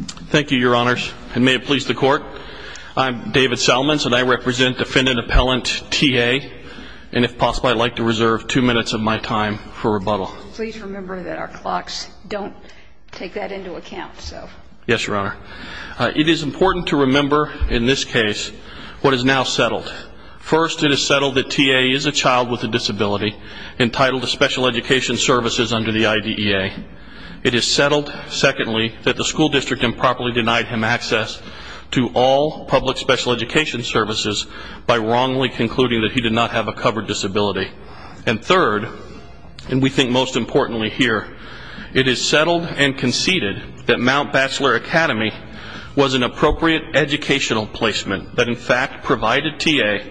Thank you, Your Honors, and may it please the Court, I'm David Salmons and I represent Defendant Appellant T.A., and if possible I'd like to reserve two minutes of my time for rebuttal. Please remember that our clocks don't take that into account, so. Yes, Your Honor. It is important to remember in this case what is now settled. First, it is settled that T.A. is a child with a disability entitled to special education services under the IDEA. It is settled, secondly, that the school district improperly denied him access to all public special education services by wrongly concluding that he did not have a covered disability. And third, and we think most importantly here, it is settled and conceded that Mount Bachelor Academy was an appropriate educational placement that in fact provided T.A.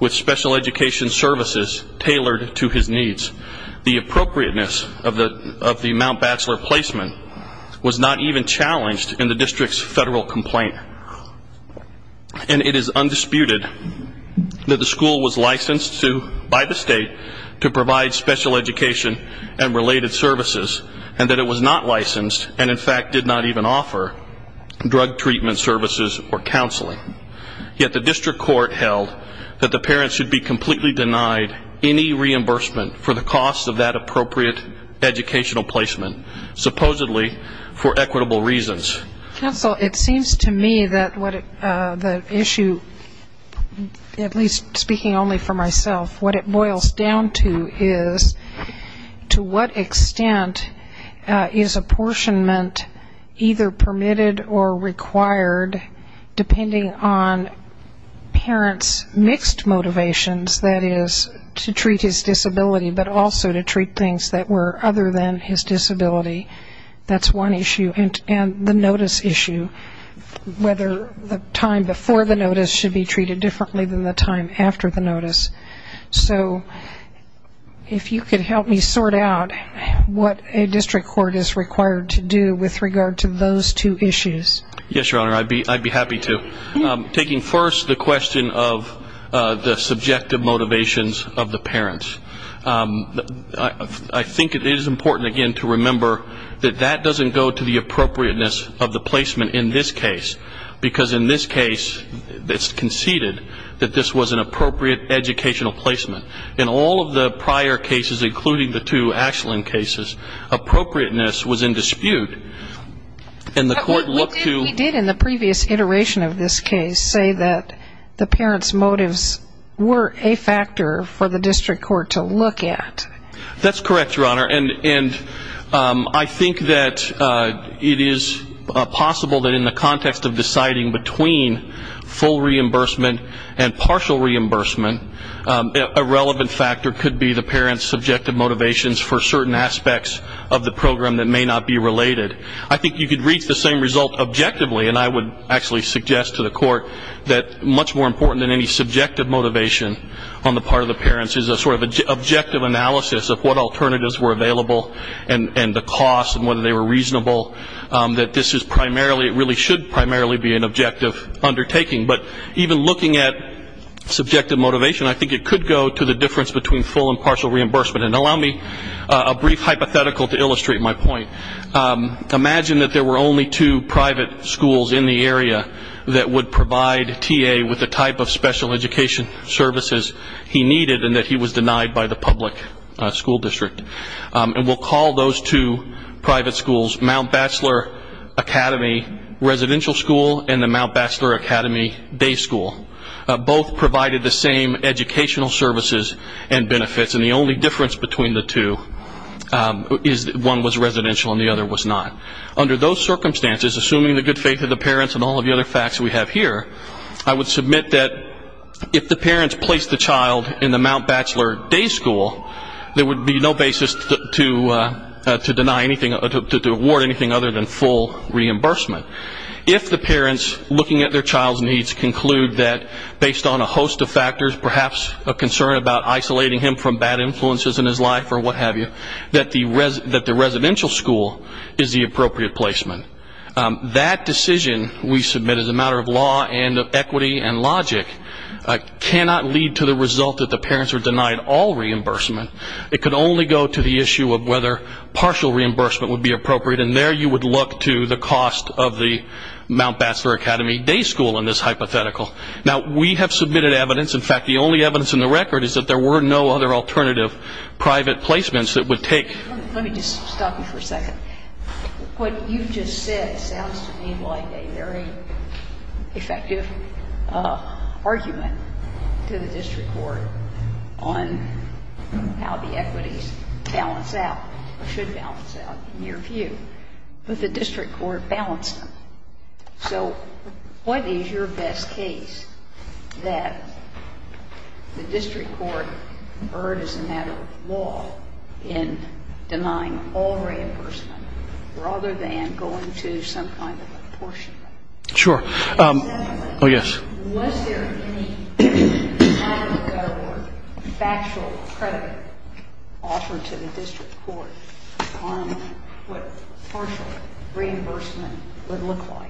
with special education services tailored to his needs. The appropriateness of the Mount Bachelor placement was not even challenged in the district's federal complaint. And it is undisputed that the school was licensed by the state to provide special education and related services and that it was not licensed and in fact did not even offer drug treatment services or counseling. Yet the district court held that the parents should be completely denied any reimbursement for the cost of that appropriate educational placement, supposedly for equitable reasons. Counsel, it seems to me that the issue, at least speaking only for myself, what it boils down to is to what extent is apportionment either permitted or required depending on parents' mixed motivations, that is, to treat his disability but also to treat things that were other than his disability. That's one issue. And the notice issue, whether the time before the notice should be treated differently than the time after the notice. So if you could help me sort out what a district court is required to do with regard to those two issues. Yes, Your Honor, I'd be happy to. Taking first the question of the subjective motivations of the parents, I think it is important again to remember that that doesn't go to the appropriateness of the placement in this case, because in this case it's conceded that this was an appropriate educational placement. In all of the prior cases, including the two Ashland cases, appropriateness was in dispute. And the court looked to But what did we did in the previous iteration of this case say that the parents' motives were a factor for the district court to look at? That's correct, Your Honor. And I think that it is possible that in the context of deciding between full reimbursement and partial reimbursement, a relevant factor could be the parents' subjective motivations for certain aspects of the program that may not be related. I think you could reach the same result objectively, and I would actually suggest to the court that much more important than any subjective motivation on the part of the parents is a sort of objective analysis of what alternatives were available and the costs and whether they were reasonable, that this is primarily, it really should primarily be an objective undertaking. But even looking at subjective motivation, I think it could go to the difference between full and partial reimbursement. And allow me a brief hypothetical to illustrate my point. Imagine that there were only two private schools in the area that would provide TA with the type of special education services he needed and that he was denied by the public school district. And we'll call those two private schools Mount Batchelor Academy Residential School and the Mount Batchelor Academy Day School. Both provided the same educational services and benefits, and the only difference between the two is one was residential and the other was not. Under those circumstances, assuming the good faith of the parents and all of the other parents here, I would submit that if the parents placed the child in the Mount Batchelor Day School, there would be no basis to deny anything, to award anything other than full reimbursement. If the parents, looking at their child's needs, conclude that based on a host of factors, perhaps a concern about isolating him from bad influences in his life or what have you, that the residential school is the appropriate placement, that decision we submit as a matter of law and of equity and logic, cannot lead to the result that the parents are denied all reimbursement. It could only go to the issue of whether partial reimbursement would be appropriate, and there you would look to the cost of the Mount Batchelor Academy Day School in this hypothetical. Now, we have submitted evidence. In fact, the only evidence in the record is that there were no other alternative private placements that would take Let me just stop you for a second. What you've just said sounds to me like a very effective argument to the district court on how the equities balance out, or should balance out in your view. But the district court balanced them. So what is your best case that the district court earned as a matter of law in denying all reimbursement, rather than going to some kind of apportionment? Sure. Was there any kind of factual credit offered to the district court on what partial reimbursement would look like?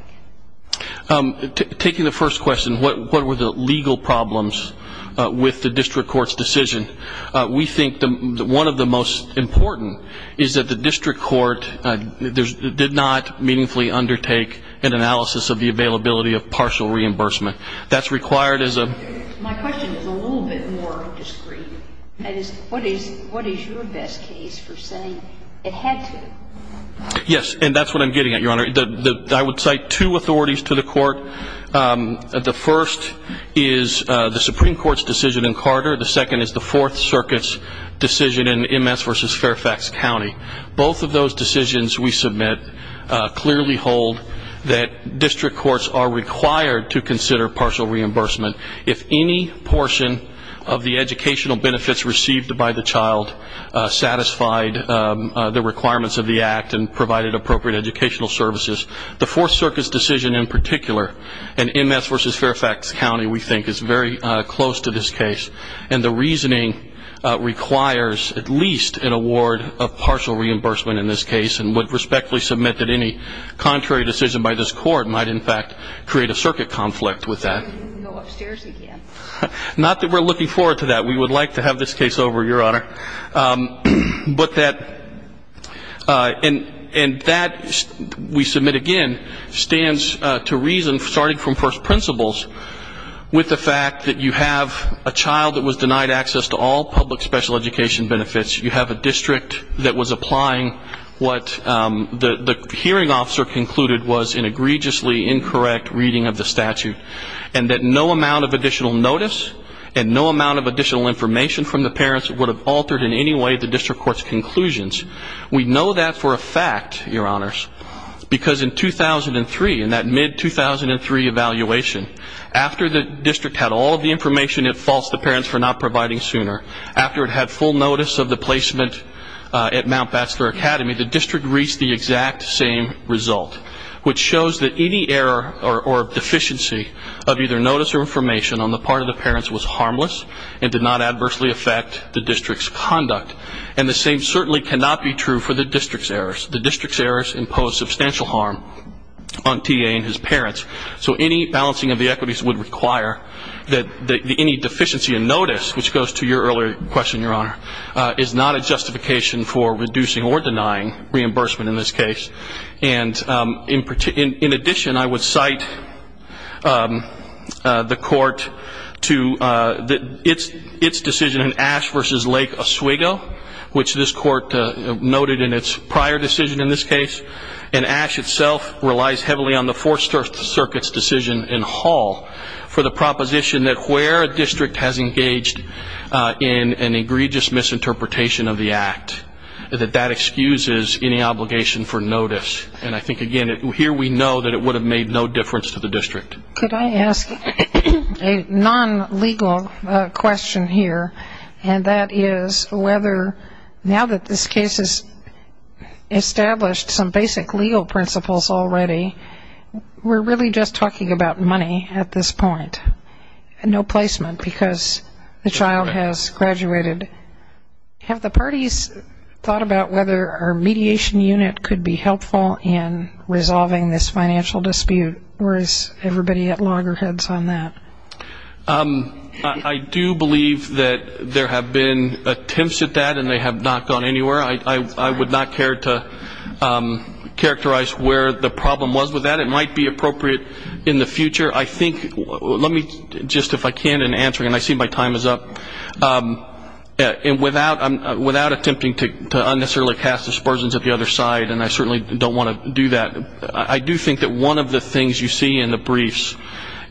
Taking the first question, what were the legal problems with the district court's decision? We think one of the most important is that the district court did not meaningfully undertake an analysis of the availability of partial reimbursement. That's required as a My question is a little bit more discreet. What is your best case for saying it had to? Yes, and that's what I'm getting at, Your Honor. I would cite two authorities to the court. The first is the Supreme Court's decision in Carter. The second is the Fourth Circuit's decision in M.S. v. Fairfax County. Both of those decisions we submit clearly hold that district courts are required to consider partial reimbursement if any portion of the educational benefits received by the child satisfied the requirements of the act and provided appropriate educational services. The Fourth Circuit's decision in particular, and in M.S. v. Fairfax County we think, is very close to this case. And the reasoning requires at least an award of partial reimbursement in this case, and would respectfully submit that any contrary decision by this court might in fact create a circuit conflict with that. So we can go upstairs again? Not that we're looking forward to that. We would like to have this case over, Your Honor. But that, and that we submit again, stands to reason, starting from first principles, with the fact that you have a child that was denied access to all public special education benefits, you have a district that was applying what the hearing officer concluded was an egregiously incorrect reading of the statute, and that no amount of additional notice and no amount of additional information from the parents would have altered in any way the district court's conclusions. We know that for a fact, Your Honors, because in 2003, in that mid-2003 evaluation, after the district had all of the information it falsed the parents for not providing sooner, after it had full notice of the placement at Mount Batchelor Academy, the district reached the exact same result, which shows that any error or deficiency of either notice or information on the part of the parents was harmless and did not adversely affect the district's conduct. And the same certainly cannot be true for the district's errors. The district's errors imposed substantial harm on T.A. and his parents. So any balancing of the equities would require that any deficiency of notice, which goes to your earlier question, Your Honor, is not a justification for reducing or denying reimbursement in this case. And in addition, I would cite the court to its decision in Ash v. Lake Oswego, which this court noted in its prior decision in this case, and Ash itself relies heavily on the Fourth Circuit's decision in Hall for the proposition that where a district has engaged in an egregious misinterpretation of the act, that that excuses any obligation for notice. And I think, again, here we know that it would have made no difference to the district. Could I ask a non-legal question here, and that is whether, now that this case has established some basic legal principles already, we're really just talking about money at this point, and no placement, because the child has graduated. Have the parties thought about whether a mediation unit could be helpful in resolving this financial dispute, or is everybody at loggerheads on that? I do believe that there have been attempts at that, and they have not gone anywhere. I would not care to characterize where the problem was with that. It might be appropriate in the future. I think, let me just, if I can, in answering, and I see my time is up, and without attempting to unnecessarily cast aspersions at the other side, and I certainly don't want to do that, I do think that one of the things you see in the briefs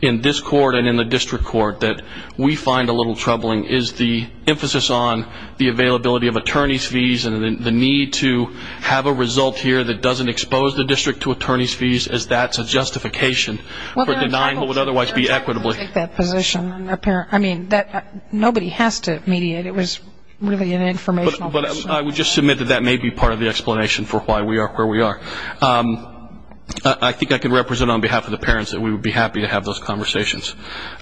in this court and in the district court that we find a little troubling is the emphasis on the availability of attorney's fees and the need to have a result here that doesn't expose the district to attorney's fees, as that's a justification for denying what would otherwise be equitably. I don't want to take that position. I mean, nobody has to mediate. It was really an informational question. But I would just submit that that may be part of the explanation for why we are where we are. I think I can represent on behalf of the parents that we would be happy to have those conversations.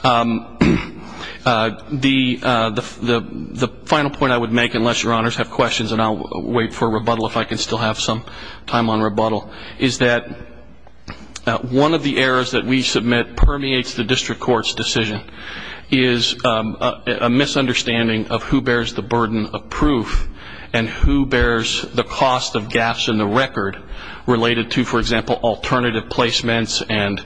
The final point I would make, unless your honors have questions, and I'll wait for rebuttal if I can still have some time on rebuttal, is that one of the errors that we submit permeates the district court's decision, is a misunderstanding of who bears the burden of proof and who bears the cost of gaps in the record. Related to, for example, alternative placements and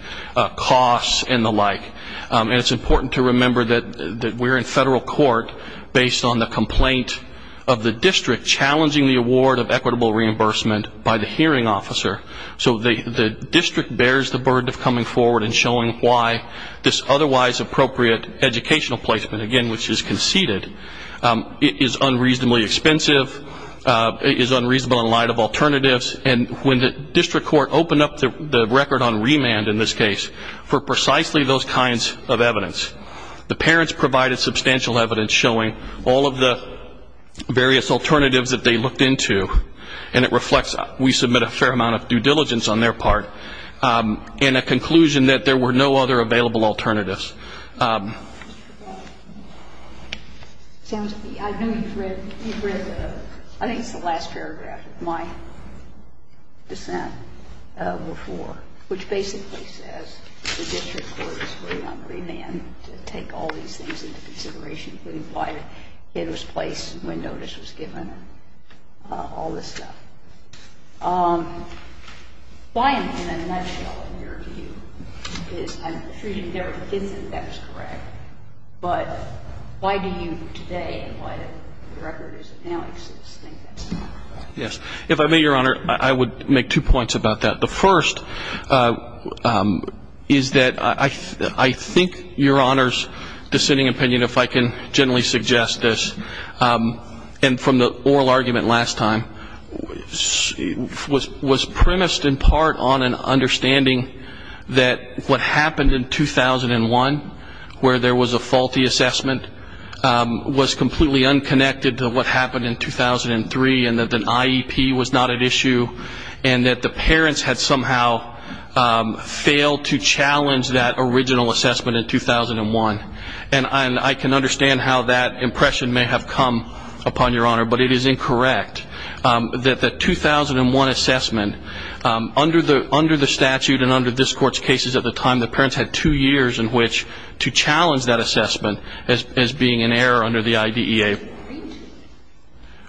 costs and the like. And it's important to remember that we're in federal court based on the complaint of the district challenging the award of equitable reimbursement by the hearing officer. So the district bears the burden of coming forward and showing why this otherwise appropriate educational placement, again, which is conceded, is unreasonably expensive, is unreasonable in light of alternatives, and when the district court opened up the record on remand in this case for precisely those kinds of evidence, the parents provided substantial evidence showing all of the various alternatives that they looked into, and it reflects we submit a fair amount of due diligence on their part, in a conclusion that there were no other available alternatives. Sotomayor, I know you've read, you've read, I think it's the last paragraph of my dissent before, which basically says the district court is willing on remand to take all these things into consideration, including why it was placed, when notice was given, all this stuff. Why, in a nutshell, in your view, is, I'm sure you can get what it is that is correct, but why do you today, and why does the record as it now exists, think that's not correct? Yes. If I may, Your Honor, I would make two points about that. The first is that I think Your Honor's dissenting opinion, if I can generally suggest this, and from the oral argument last time, was premised in part on an understanding that what happened in 2001, where there was a faulty assessment, was completely unconnected to what happened in 2003, and that the IEP was not at issue, and that the parents had somehow failed to challenge that original assessment in 2001. And I can understand how that impression may have come upon Your Honor, but it is incorrect. The 2001 assessment, under the statute and under this Court's cases at the time, the parents had two years in which to challenge that assessment as being an error under the IDEA.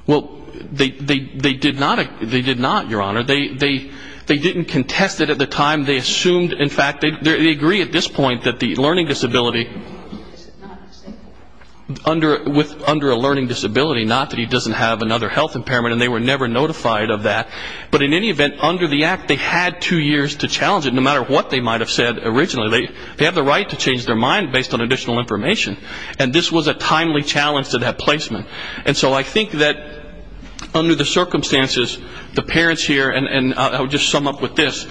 Well, they did not, Your Honor. They didn't contest it at the time. And they assumed, in fact, they agree at this point that the learning disability, under a learning disability, not that he doesn't have another health impairment, and they were never notified of that. But in any event, under the act, they had two years to challenge it, no matter what they might have said originally. They have the right to change their mind based on additional information, and this was a timely challenge to that placement. And so I think that under the circumstances, the parents here, and I'll just sum up with this,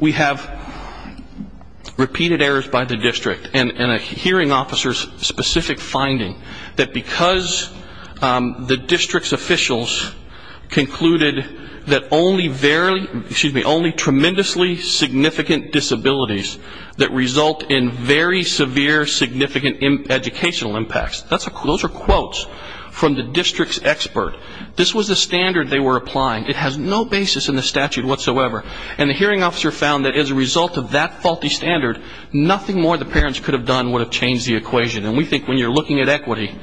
we have repeated errors by the district, and a hearing officer's specific finding, that because the district's officials concluded that only very, excuse me, only tremendously significant disabilities that result in very severe significant educational impacts. Those are quotes from the district's expert. This was the standard they were applying. It has no basis in the statute whatsoever. And the hearing officer found that as a result of that faulty standard, nothing more the parents could have done would have changed the equation. And we think when you're looking at equity,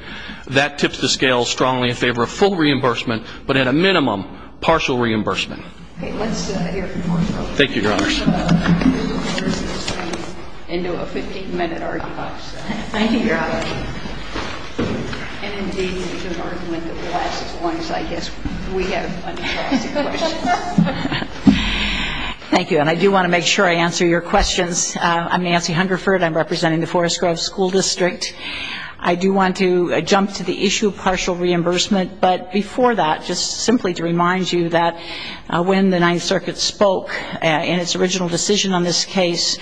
that tips the scale strongly in favor of full reimbursement, but at a minimum, partial reimbursement. Okay. Let's hear from Mark. Thank you, Your Honor. I'm going to turn this into a 15-minute argument. Thank you, Your Honor. And indeed, it's an argument that will last as long as I guess we have unanswered questions. Thank you. And I do want to make sure I answer your questions. I'm Nancy Hungerford. I'm representing the Forest Grove School District. I do want to jump to the issue of partial reimbursement, but before that, just simply to remind you that when the Ninth Circuit spoke in its original decision on this case,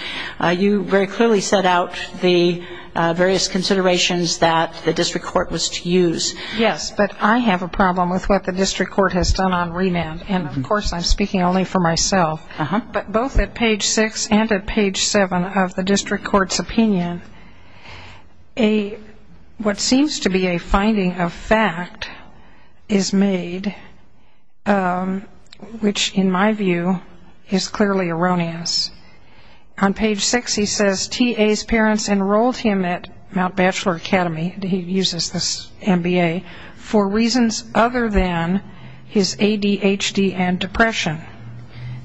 you very clearly set out the various considerations that the district court was to use. Yes, but I have a problem with what the district court has done on remand. And, of course, I'm speaking only for myself. But both at page 6 and at page 7 of the district court's opinion, what seems to be a finding of fact is made, which in my view is clearly erroneous. On page 6, he says, T.A.'s parents enrolled him at Mount Batchelor Academy, and he uses this MBA, for reasons other than his ADHD and depression.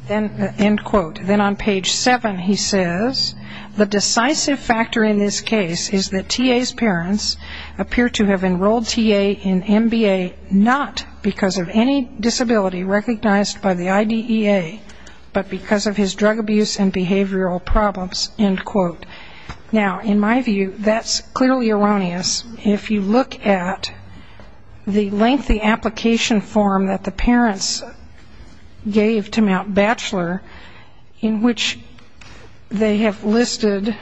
End quote. Then on page 7, he says, The decisive factor in this case is that T.A.'s parents appear to have enrolled T.A. in MBA not because of any disability recognized by the IDEA, but because of his drug abuse and behavioral problems. End quote. Now, in my view, that's clearly erroneous. If you look at the lengthy application form that the parents gave to Mount Batchelor, in which they have listed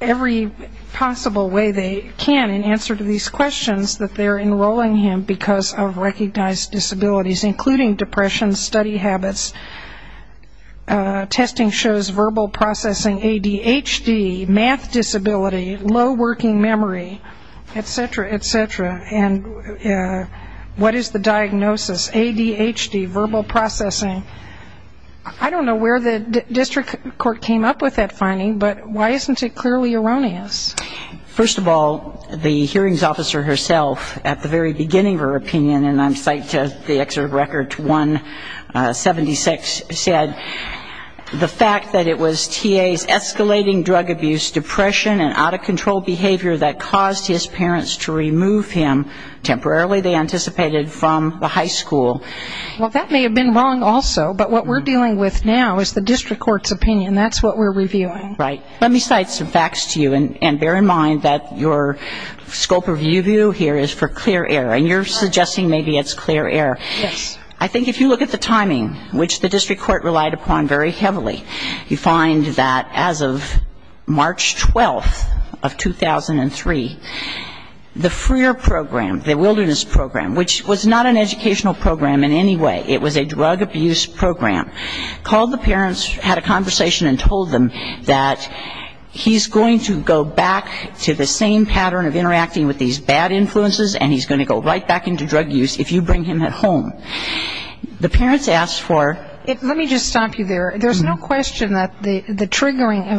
every possible way they can in answer to these questions, that they're enrolling him because of recognized disabilities, including depression, study habits, testing shows, verbal processing, ADHD, math disability, low working memory, et cetera, et cetera, and what is the diagnosis, ADHD, verbal processing, I don't know where the district court came up with that finding, but why isn't it clearly erroneous? First of all, the hearings officer herself, at the very beginning of her opinion, and I cite the excerpt of Record 176, said, The fact that it was T.A.'s escalating drug abuse, depression, and out-of-control behavior that caused his parents to remove him temporarily, they anticipated, from the high school. Well, that may have been wrong also, but what we're dealing with now is the district court's opinion. That's what we're reviewing. Right. Let me cite some facts to you, and bear in mind that your scope of review here is for clear air, and you're suggesting maybe it's clear air. Yes. I think if you look at the timing, which the district court relied upon very heavily, you find that as of March 12th of 2003, the FREER program, the wilderness program, which was not an educational program in any way, it was a drug abuse program, called the parents, had a conversation, and told them that he's going to go back to the same pattern of interacting with these bad influences, and he's going to go right back into drug use if you bring him home. The parents asked for ---- Let me just stop you there. There's no question that the triggering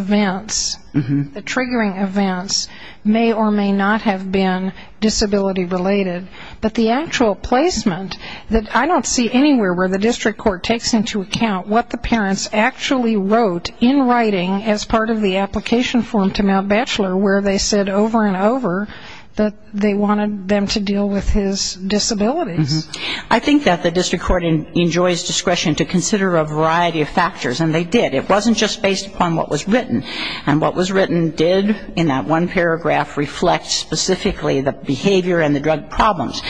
events may or may not have been disability-related, but the actual placement that I don't see anywhere where the district court takes into account what the parents actually wrote in writing as part of the application form to Mount Batchelor, where they said over and over that they wanted them to deal with his disabilities. I think that the district court enjoys discretion to consider a variety of factors, and they did. It wasn't just based upon what was written. And what was written did, in that one paragraph, reflect specifically the behavior and the drug problems.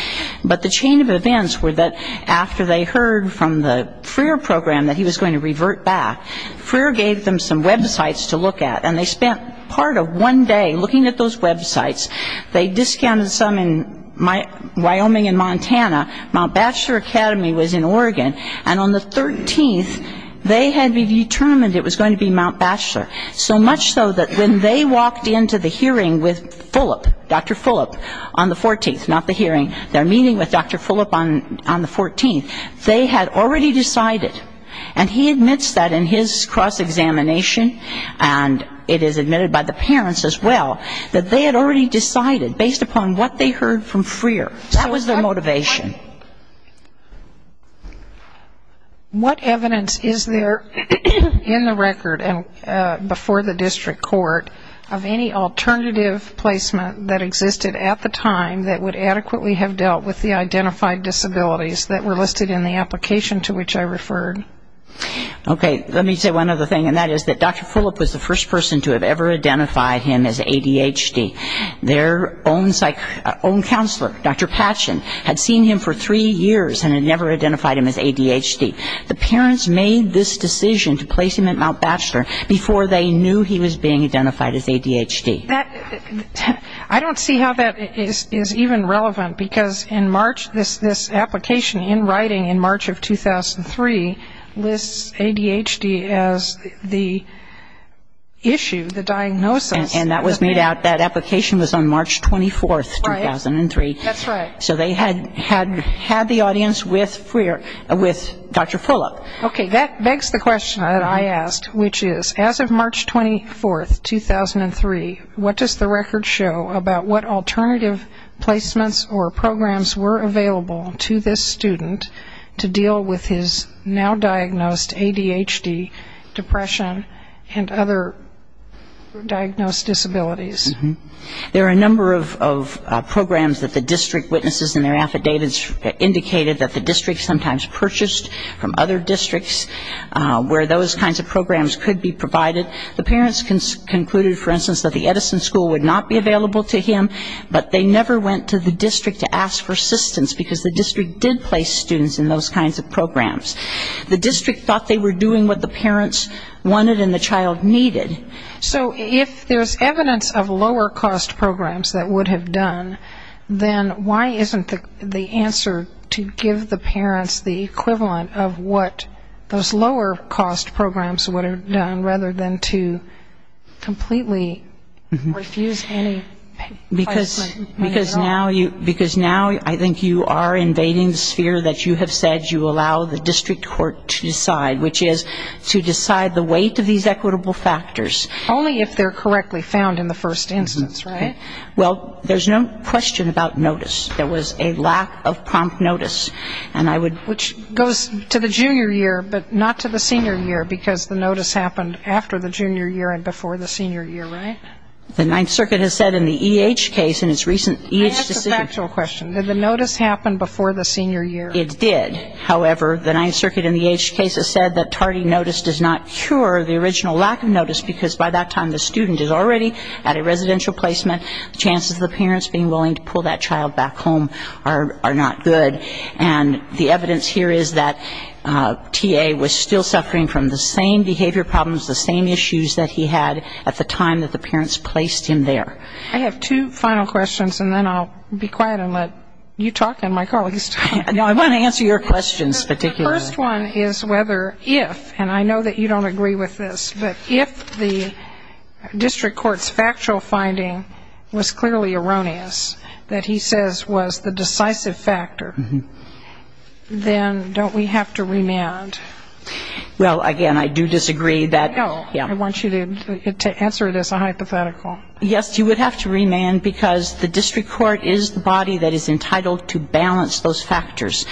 But the chain of events were that after they heard from the FREER program that he was going to revert back, FREER gave them some websites to look at, and they spent part of one day looking at those websites. They discounted some in Wyoming and Montana. Mount Batchelor Academy was in Oregon. And on the 13th, they had determined it was going to be Mount Batchelor, so much so that when they walked into the hearing with Dr. Fulop on the 14th, not the hearing, their meeting with Dr. Fulop on the 14th, they had already decided, and he admits that in his cross-examination, and it is admitted by the parents as well, that they had already decided based upon what they heard from FREER. So was their motivation. What evidence is there in the record before the district court of any alternative placement that existed at the time that would adequately have dealt with the identified disabilities that were listed in the application to which I referred? Okay. Let me say one other thing, and that is that Dr. Fulop was the first person to have ever identified him as ADHD. Their own counselor, Dr. Patchen, had seen him for three years and had never identified him as ADHD. The parents made this decision to place him at Mount Batchelor before they knew he was being identified as ADHD. I don't see how that is even relevant because in March, this application in writing in March of 2003 lists ADHD as the issue, the diagnosis. And that was made out, that application was on March 24th, 2003. That's right. So they had the audience with Dr. Fulop. Okay. That begs the question that I asked, which is, as of March 24th, 2003, what does the record show about what alternative placements or programs were available to this student to deal with his now-diagnosed ADHD, depression, and other diagnosed disabilities? There are a number of programs that the district witnesses in their affidavits indicated that the district sometimes purchased from other districts where those kinds of programs could be provided. The parents concluded, for instance, that the Edison School would not be available to him, but they never went to the district to ask for assistance because the district did place students in those kinds of programs. The district thought they were doing what the parents wanted and the child needed. So if there's evidence of lower-cost programs that would have done, then why isn't the answer to give the parents the equivalent of what those lower-cost programs would have done, rather than to completely refuse any placement at all? Because now I think you are invading the sphere that you have said you allow the district court to decide, which is to decide the weight of these equitable factors. Only if they're correctly found in the first instance, right? Well, there's no question about notice. There was a lack of prompt notice, and I would ---- Which goes to the junior year, but not to the senior year, because the notice happened after the junior year and before the senior year, right? The Ninth Circuit has said in the EH case in its recent EH decision ---- That's a factual question. Did the notice happen before the senior year? It did. However, the Ninth Circuit in the EH case has said that tardy notice does not cure the original lack of notice, because by that time the student is already at a residential placement. The chances of the parents being willing to pull that child back home are not good. And the evidence here is that T.A. was still suffering from the same behavior problems, the same issues that he had at the time that the parents placed him there. I have two final questions, and then I'll be quiet and let you talk and my colleagues talk. No, I want to answer your questions particularly. The first one is whether if, and I know that you don't agree with this, but if the district court's factual finding was clearly erroneous, that he says was the decisive factor, then don't we have to remand? Well, again, I do disagree that ---- No, I want you to answer it as a hypothetical. Yes, you would have to remand, because the district court is the body that is entitled to balance those factors.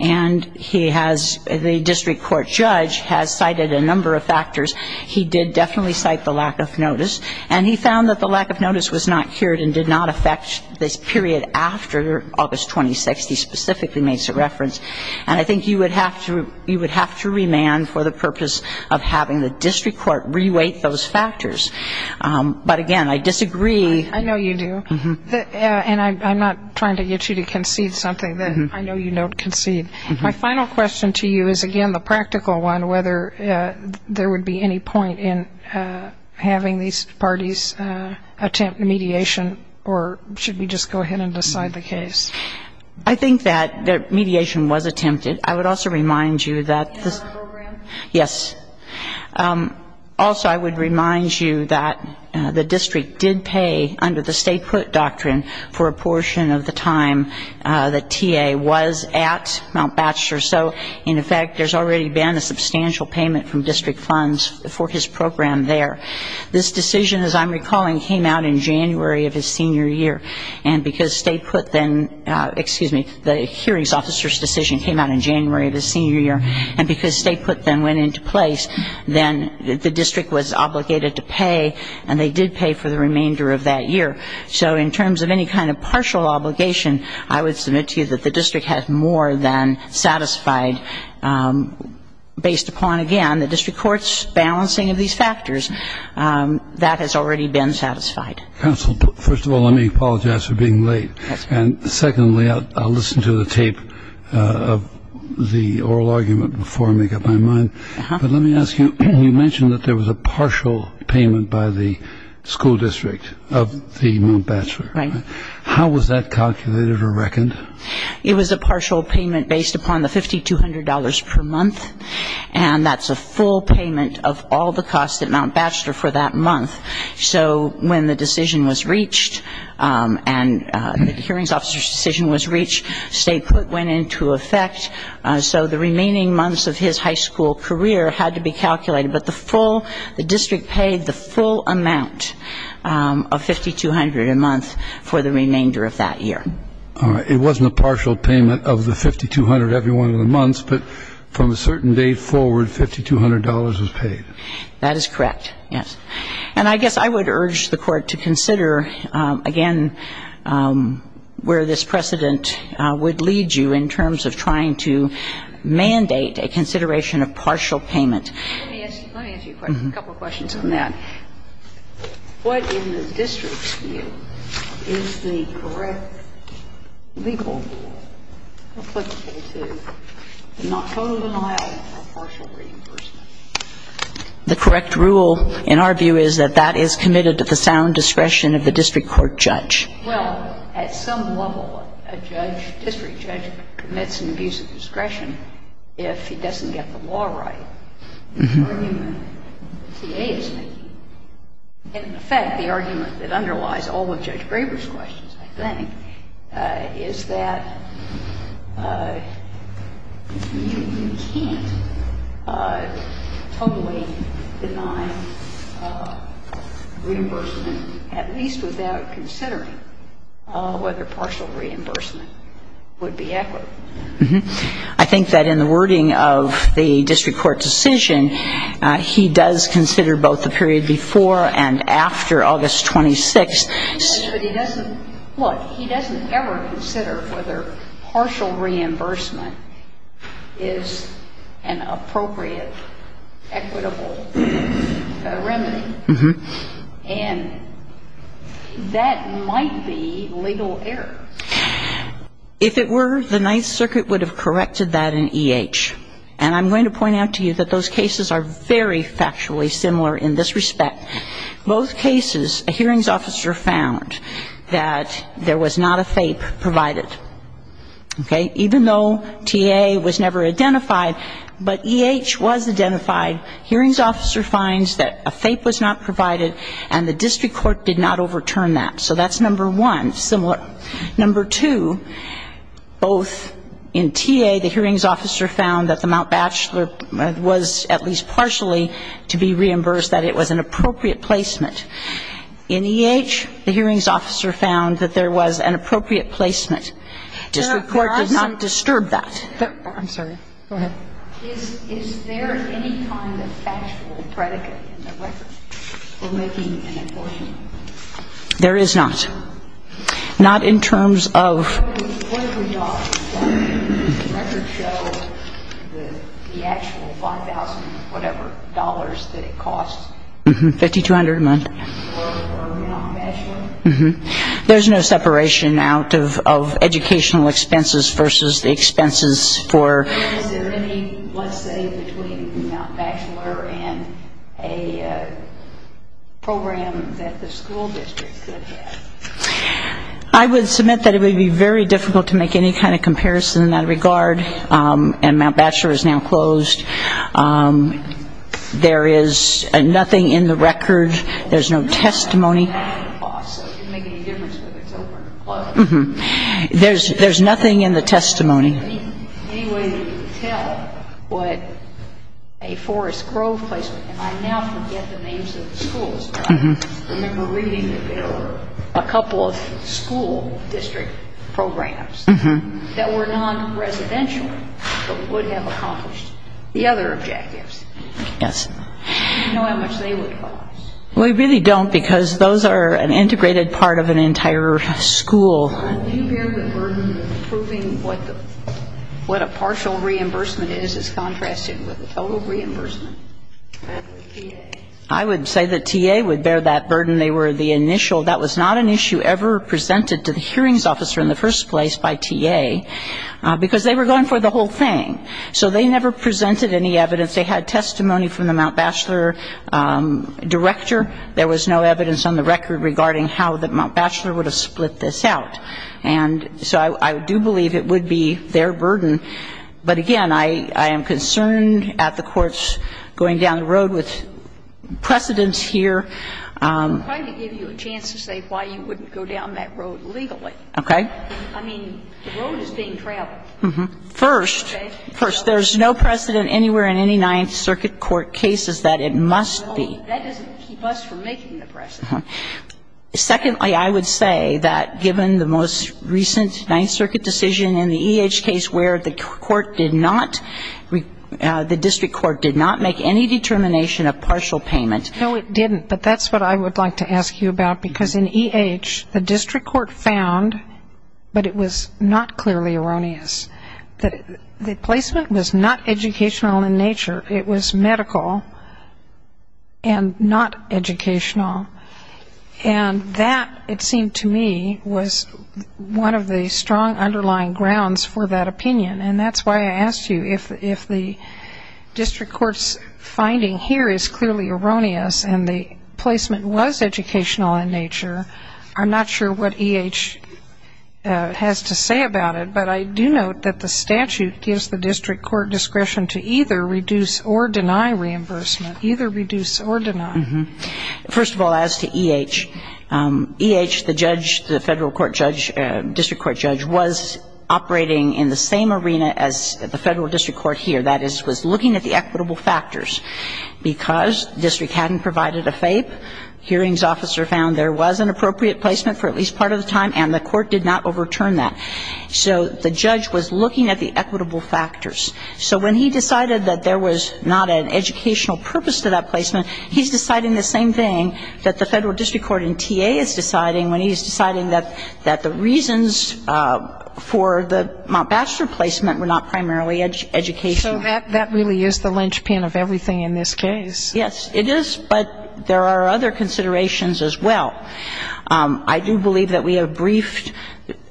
And he has, the district court judge has cited a number of factors. He did definitely cite the lack of notice, and he found that the lack of notice was not cured and did not affect this period after August 26th. He specifically makes a reference. And I think you would have to remand for the purpose of having the district court reweight those factors. But, again, I disagree. I know you do. And I'm not trying to get you to concede something that I know you don't concede. My final question to you is, again, the practical one, whether there would be any point in having these parties attempt mediation, or should we just go ahead and decide the case? I think that mediation was attempted. I would also remind you that the ---- In our program? Yes. Also, I would remind you that the district did pay under the stay put doctrine for a portion of the time that T.A. was at Mount Baxter. So, in effect, there's already been a substantial payment from district funds for his program there. This decision, as I'm recalling, came out in January of his senior year. And because stay put then, excuse me, the hearings officer's decision came out in January of his senior year, and because stay put then went into place, then the district was obligated to pay, and they did pay for the remainder of that year. So, in terms of any kind of partial obligation, I would submit to you that the district has more than satisfied, based upon, again, the district court's balancing of these factors, that has already been satisfied. Counsel, first of all, let me apologize for being late. And secondly, I'll listen to the tape of the oral argument before I make up my mind. But let me ask you, you mentioned that there was a partial payment by the school district of the Mount Baxter. How was that calculated or reckoned? It was a partial payment based upon the $5,200 per month, and that's a full payment of all the costs at Mount Baxter for that month. So when the decision was reached and the hearings officer's decision was reached, stay put went into effect. So the remaining months of his high school career had to be calculated, but the district paid the full amount of $5,200 a month for the remainder of that year. It wasn't a partial payment of the $5,200 every one of the months, but from a certain date forward, $5,200 was paid. That is correct, yes. And I guess I would urge the Court to consider, again, where this precedent would lead you in terms of trying to mandate a consideration of partial payment. Let me ask you a couple of questions on that. What in the district's view is the correct legal rule applicable to the not total denial or partial reimbursement? The correct rule in our view is that that is committed at the sound discretion of the district court judge. Well, at some level, a judge, district judge, commits an abuse of discretion if he doesn't get the law right. In fact, the argument that underlies all of Judge Graber's questions, I think, is that you can't totally deny reimbursement, at least without considering whether partial reimbursement would be equitable. I think that in the wording of the district court decision, he does consider both the period before and after August 26. Yes, but he doesn't, look, he doesn't ever consider whether partial reimbursement is an appropriate, equitable remedy. And that might be legal error. If it were, the Ninth Circuit would have corrected that in E.H. And I'm going to point out to you that those cases are very factually similar in this respect. Both cases, a hearings officer found that there was not a FAPE provided. Okay? Even though T.A. was never identified, but E.H. was identified, hearings officer finds that a FAPE was not provided, and the district court did not overturn that. So that's number one, similar. Number two, both in T.A., the hearings officer found that the Mount Batchelor was at least partially to be reimbursed, that it was an appropriate placement. In E.H., the hearings officer found that there was an appropriate placement. District court did not disturb that. I'm sorry. Go ahead. Is there any kind of factual predicate in the record for making an abortion? There is not. Not in terms of? What does the record show the actual $5,000, whatever, dollars that it costs? $5,200 a month. For Mount Batchelor? There's no separation out of educational expenses versus the expenses for? Is there any let's say between Mount Batchelor and a program that the school district could have? I would submit that it would be very difficult to make any kind of comparison in that regard, and Mount Batchelor is now closed. There is nothing in the record. There's no testimony. So it doesn't make any difference whether it's open or closed. There's nothing in the testimony. Is there any way that you could tell what a Forest Grove placement, and I now forget the names of the schools, but I remember reading that there were a couple of school district programs that were non-residential but would have accomplished the other objectives. Yes. Do you know how much they would cost? We really don't because those are an integrated part of an entire school. Do you bear the burden of proving what a partial reimbursement is as contrasted with a total reimbursement? I would say that T.A. would bear that burden. They were the initial. That was not an issue ever presented to the hearings officer in the first place by T.A. because they were going for the whole thing. So they never presented any evidence. They had testimony from the Mount Batchelor director. There was no evidence on the record regarding how the Mount Batchelor would have split this out. And so I do believe it would be their burden. But, again, I am concerned at the courts going down the road with precedents here. I'm trying to give you a chance to say why you wouldn't go down that road legally. Okay. I mean, the road is being traveled. First, there's no precedent anywhere in any Ninth Circuit court cases that it must be. That doesn't keep us from making the precedent. Secondly, I would say that given the most recent Ninth Circuit decision in the E.H. case where the court did not, the district court did not make any determination of partial payment. No, it didn't. But that's what I would like to ask you about because in E.H. the district court found, but it was not clearly erroneous, that the placement was not educational in nature. It was medical and not educational. And that, it seemed to me, was one of the strong underlying grounds for that opinion. And that's why I asked you if the district court's finding here is clearly erroneous and the placement was educational in nature, I'm not sure what E.H. has to say about it. But I do note that the statute gives the district court discretion to either reduce or deny reimbursement, either reduce or deny. First of all, as to E.H., E.H., the judge, the federal court judge, district court judge, was operating in the same arena as the federal district court here. That is, was looking at the equitable factors. Because district hadn't provided a FAPE, hearings officer found there was an appropriate placement for at least part of the time and the court did not overturn that. So the judge was looking at the equitable factors. So when he decided that there was not an educational purpose to that placement, he's deciding the same thing that the federal district court and T.A. is deciding when he's deciding that the reasons for the Mount Baxter placement were not primarily educational. So that really is the linchpin of everything in this case. Yes, it is. But there are other considerations as well. I do believe that we have briefed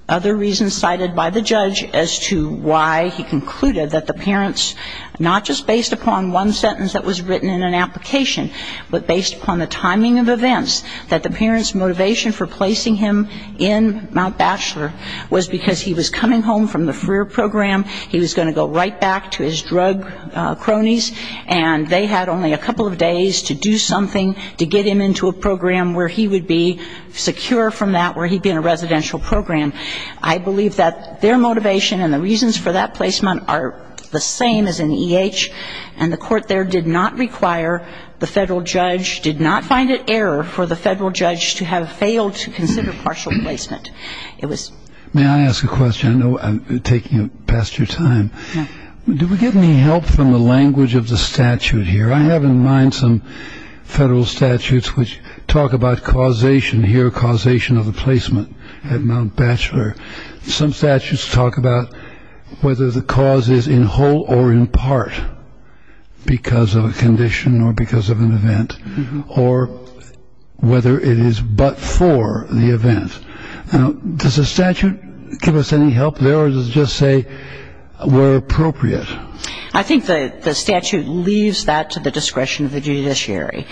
other reasons cited by the judge as to why he concluded that the parents, not just based upon one sentence that was written in an application, but based upon the timing of events, that the parents' motivation for placing him in Mount Baxter was because he was coming home from the career program, he was going to go right back to his drug cronies, and they had only a couple of days to do something to get him into a program where he would be secure from that, where he'd be in a residential program. I believe that their motivation and the reasons for that placement are the same as in E.H., and the court there did not require the federal judge, did not find it error for the federal judge to have failed to consider partial placement. May I ask a question? I know I'm taking up past your time. No. Do we get any help from the language of the statute here? I have in mind some federal statutes which talk about causation here, causation of the placement at Mount Baxter. Some statutes talk about whether the cause is in whole or in part because of a condition or because of an event, or whether it is but for the event. Does the statute give us any help there, or does it just say where appropriate? I think the statute leaves that to the discretion of the judiciary.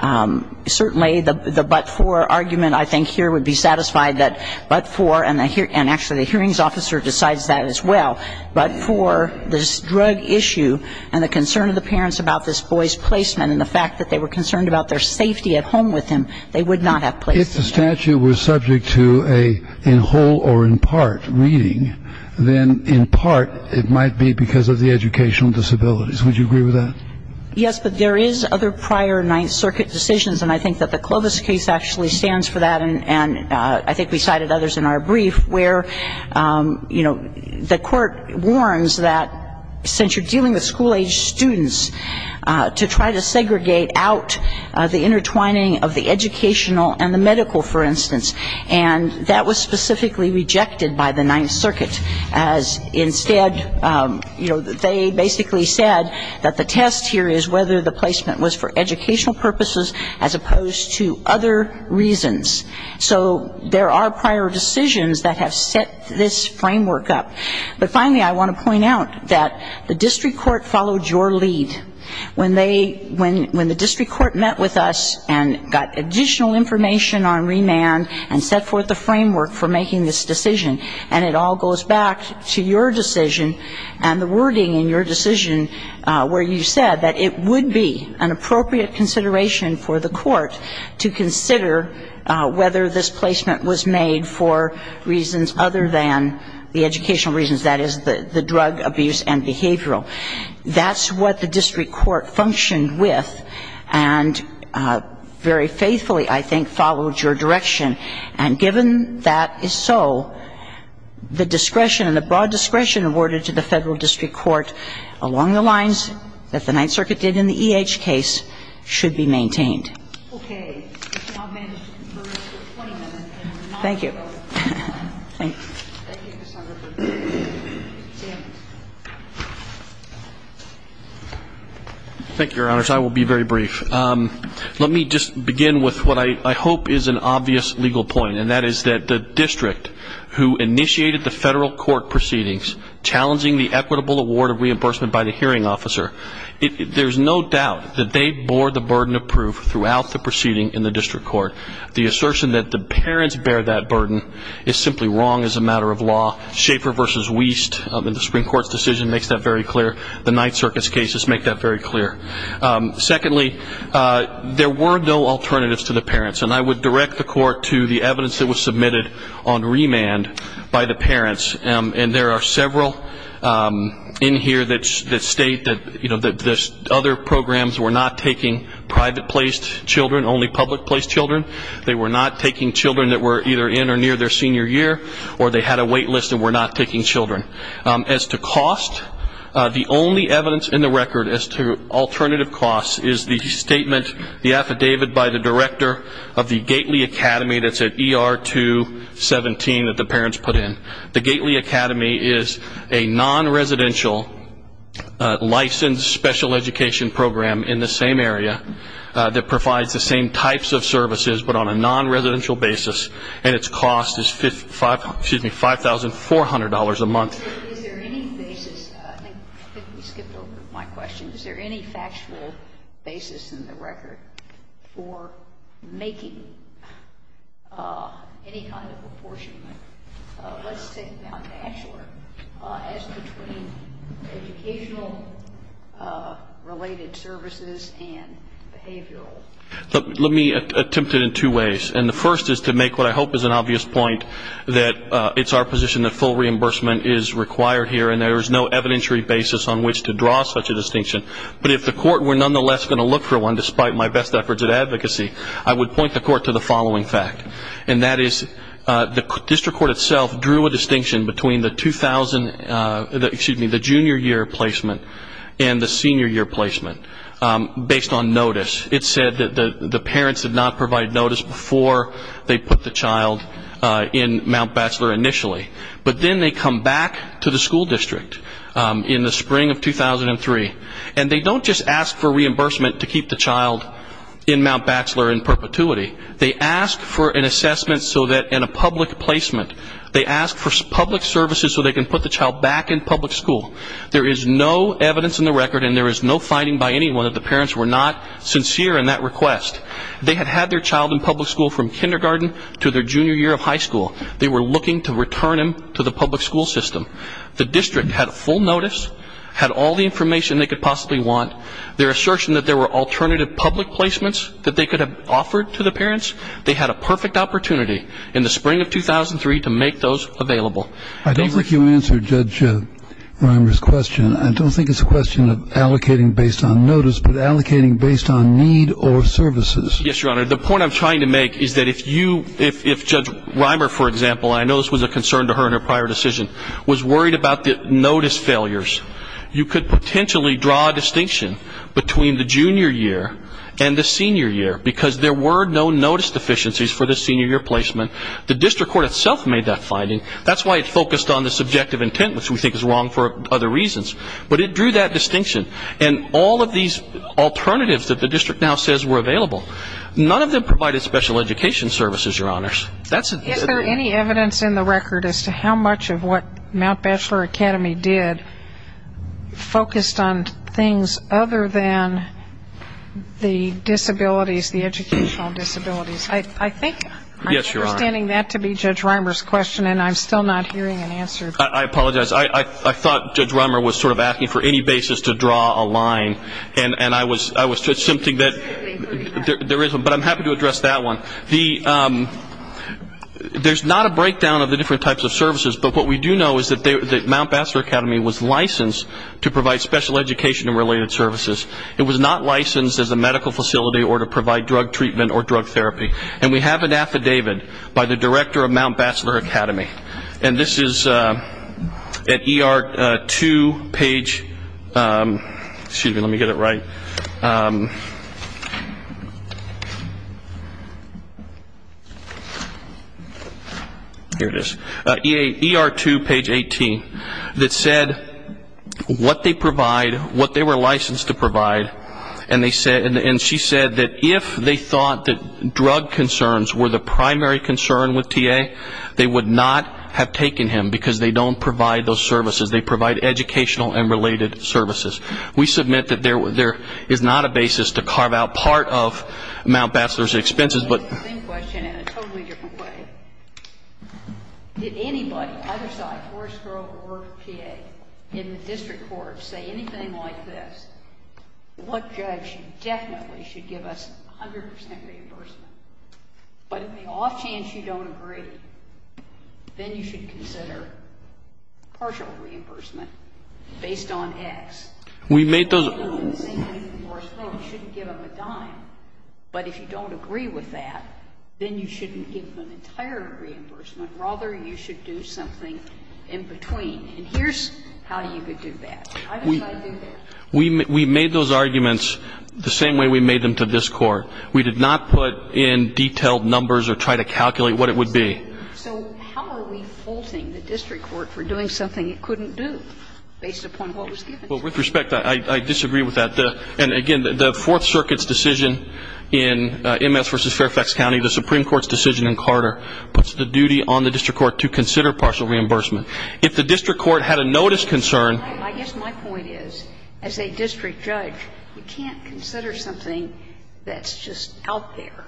Certainly the but for argument I think here would be satisfied that but for, and actually the hearings officer decides that as well, but for this drug issue and the concern of the parents about this boy's placement and the fact that they were concerned about their safety at home with him, they would not have placed him. If the statute was subject to a in whole or in part reading, then in part it might be because of the educational disabilities. Would you agree with that? Yes, but there is other prior Ninth Circuit decisions, and I think that the Clovis case actually stands for that, and I think we cited others in our brief, where the court warns that since you're dealing with school-age students, to try to segregate out the intertwining of the educational and the medical, for instance, and that was specifically rejected by the Ninth Circuit as instead, you know, they basically said that the test here is whether the placement was for educational purposes as opposed to other reasons. So there are prior decisions that have set this framework up. But finally, I want to point out that the district court followed your lead. When the district court met with us and got additional information on remand and set forth the framework for making this decision, and it all goes back to your decision and the wording in your decision where you said that it would be an appropriate consideration for the court to consider whether this placement was made for reasons other than the educational reasons, that is, the drug abuse and behavioral. That's what the district court functioned with and very faithfully, I think, followed your direction. And given that is so, the discretion and the broad discretion awarded to the federal district court along the lines that the Ninth Circuit did in the EH case should be maintained. Okay. Thank you. Thank you, Ms. Hunter. Thank you, Your Honors. I will be very brief. Let me just begin with what I hope is an obvious legal point, and that is that the district who initiated the federal court proceedings challenging the equitable award of reimbursement by the hearing officer, there's no doubt that they bore the burden of proof throughout the proceedings in the district court. The assertion that the parents bear that burden is simply wrong as a matter of law. Schaefer v. Wiest in the Supreme Court's decision makes that very clear. The Ninth Circuit's cases make that very clear. Secondly, there were no alternatives to the parents, and I would direct the court to the evidence that was submitted on remand by the parents, and there are several in here that state that, you know, they were not taking children that were either in or near their senior year, or they had a wait list and were not taking children. As to cost, the only evidence in the record as to alternative costs is the statement, the affidavit by the director of the Gately Academy that's at ER 217 that the parents put in. The Gately Academy is a non-residential licensed special education program in the same area that provides the same types of services but on a non-residential basis, and its cost is $5,400 a month. Is there any basis? I think we skipped over my question. Is there any factual basis in the record for making any kind of apportionment? Let's take it down to Ashler as between educational-related services and behavioral. Let me attempt it in two ways, and the first is to make what I hope is an obvious point that it's our position that full reimbursement is required here and there is no evidentiary basis on which to draw such a distinction. But if the court were nonetheless going to look for one, despite my best efforts at advocacy, I would point the court to the following fact, and that is the district court itself drew a distinction between the junior year placement and the senior year placement based on notice. It said that the parents did not provide notice before they put the child in Mount Batchelor initially. But then they come back to the school district in the spring of 2003, and they don't just ask for reimbursement to keep the child in Mount Batchelor in perpetuity. They ask for an assessment and a public placement. They ask for public services so they can put the child back in public school. There is no evidence in the record, and there is no finding by anyone, that the parents were not sincere in that request. They had had their child in public school from kindergarten to their junior year of high school. They were looking to return him to the public school system. The district had full notice, had all the information they could possibly want. Their assertion that there were alternative public placements that they could have offered to the parents, they had a perfect opportunity in the spring of 2003 to make those available. I don't think you answered Judge Reimer's question. I don't think it's a question of allocating based on notice, but allocating based on need or services. Yes, Your Honor. The point I'm trying to make is that if you, if Judge Reimer, for example, and I know this was a concern to her in her prior decision, was worried about the notice failures, you could potentially draw a distinction between the junior year and the senior year, because there were no notice deficiencies for the senior year placement. The district court itself made that finding. That's why it focused on the subjective intent, which we think is wrong for other reasons. But it drew that distinction. And all of these alternatives that the district now says were available, none of them provided special education services, Your Honors. Is there any evidence in the record as to how much of what Mount Bachelor Academy did focused on things other than the disabilities, the educational disabilities? I think I'm understanding that to be Judge Reimer's question, and I'm still not hearing an answer. I apologize. I thought Judge Reimer was sort of asking for any basis to draw a line, and I was assuming that there is one. But I'm happy to address that one. There's not a breakdown of the different types of services, but what we do know is that Mount Bachelor Academy was licensed to provide special education and related services. It was not licensed as a medical facility or to provide drug treatment or drug therapy. And we have an affidavit by the director of Mount Bachelor Academy. And this is at ER2 page 18 that said what they provide, what they were licensed to provide, and she said that if they thought that drug concerns were the primary concern with TA, they would not have taken him because they don't provide those services. They provide educational and related services. We submit that there is not a basis to carve out part of Mount Bachelor's expenses. I'm going to ask the same question in a totally different way. Did anybody, either side, Forest Grove or TA, in the district court, say anything like this? What judge definitely should give us 100 percent reimbursement? But in the off chance you don't agree, then you should consider partial reimbursement based on X. If you don't agree with the same thing in Forest Grove, you shouldn't give them a dime. But if you don't agree with that, then you shouldn't give them an entire reimbursement. Rather, you should do something in between. And here's how you could do that. How did I do that? We made those arguments the same way we made them to this Court. We did not put in detailed numbers or try to calculate what it would be. So how are we faulting the district court for doing something it couldn't do based upon what was given to it? Well, with respect, I disagree with that. And again, the Fourth Circuit's decision in M.S. v. Fairfax County, the Supreme Court's decision in Carter, puts the duty on the district court to consider partial reimbursement. If the district court had a notice concern ---- I guess my point is, as a district judge, you can't consider something that's just out there.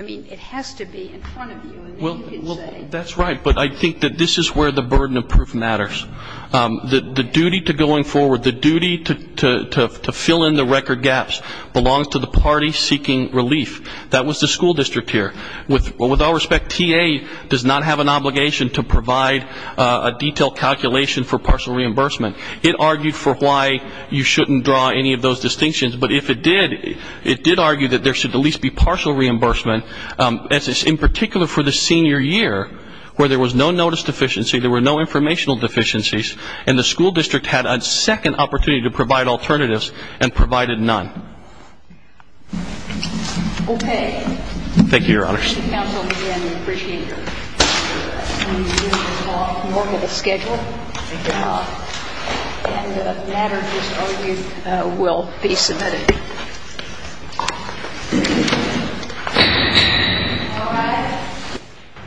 I mean, it has to be in front of you, and then you can say ---- Well, that's right. But I think that this is where the burden of proof matters. The duty to going forward, the duty to fill in the record gaps belongs to the party seeking relief. That was the school district here. With all respect, T.A. does not have an obligation to provide a detailed calculation for partial reimbursement. It argued for why you shouldn't draw any of those distinctions. But if it did, it did argue that there should at least be partial reimbursement, in particular for the senior year where there was no notice deficiency, there were no informational deficiencies, and the school district had a second opportunity to provide alternatives and provided none. Okay. Thank you, Your Honors. Counsel, again, we appreciate your time. We will call off normal schedule. Thank you, Your Honor. And the matter, as argued, will be submitted. All rise.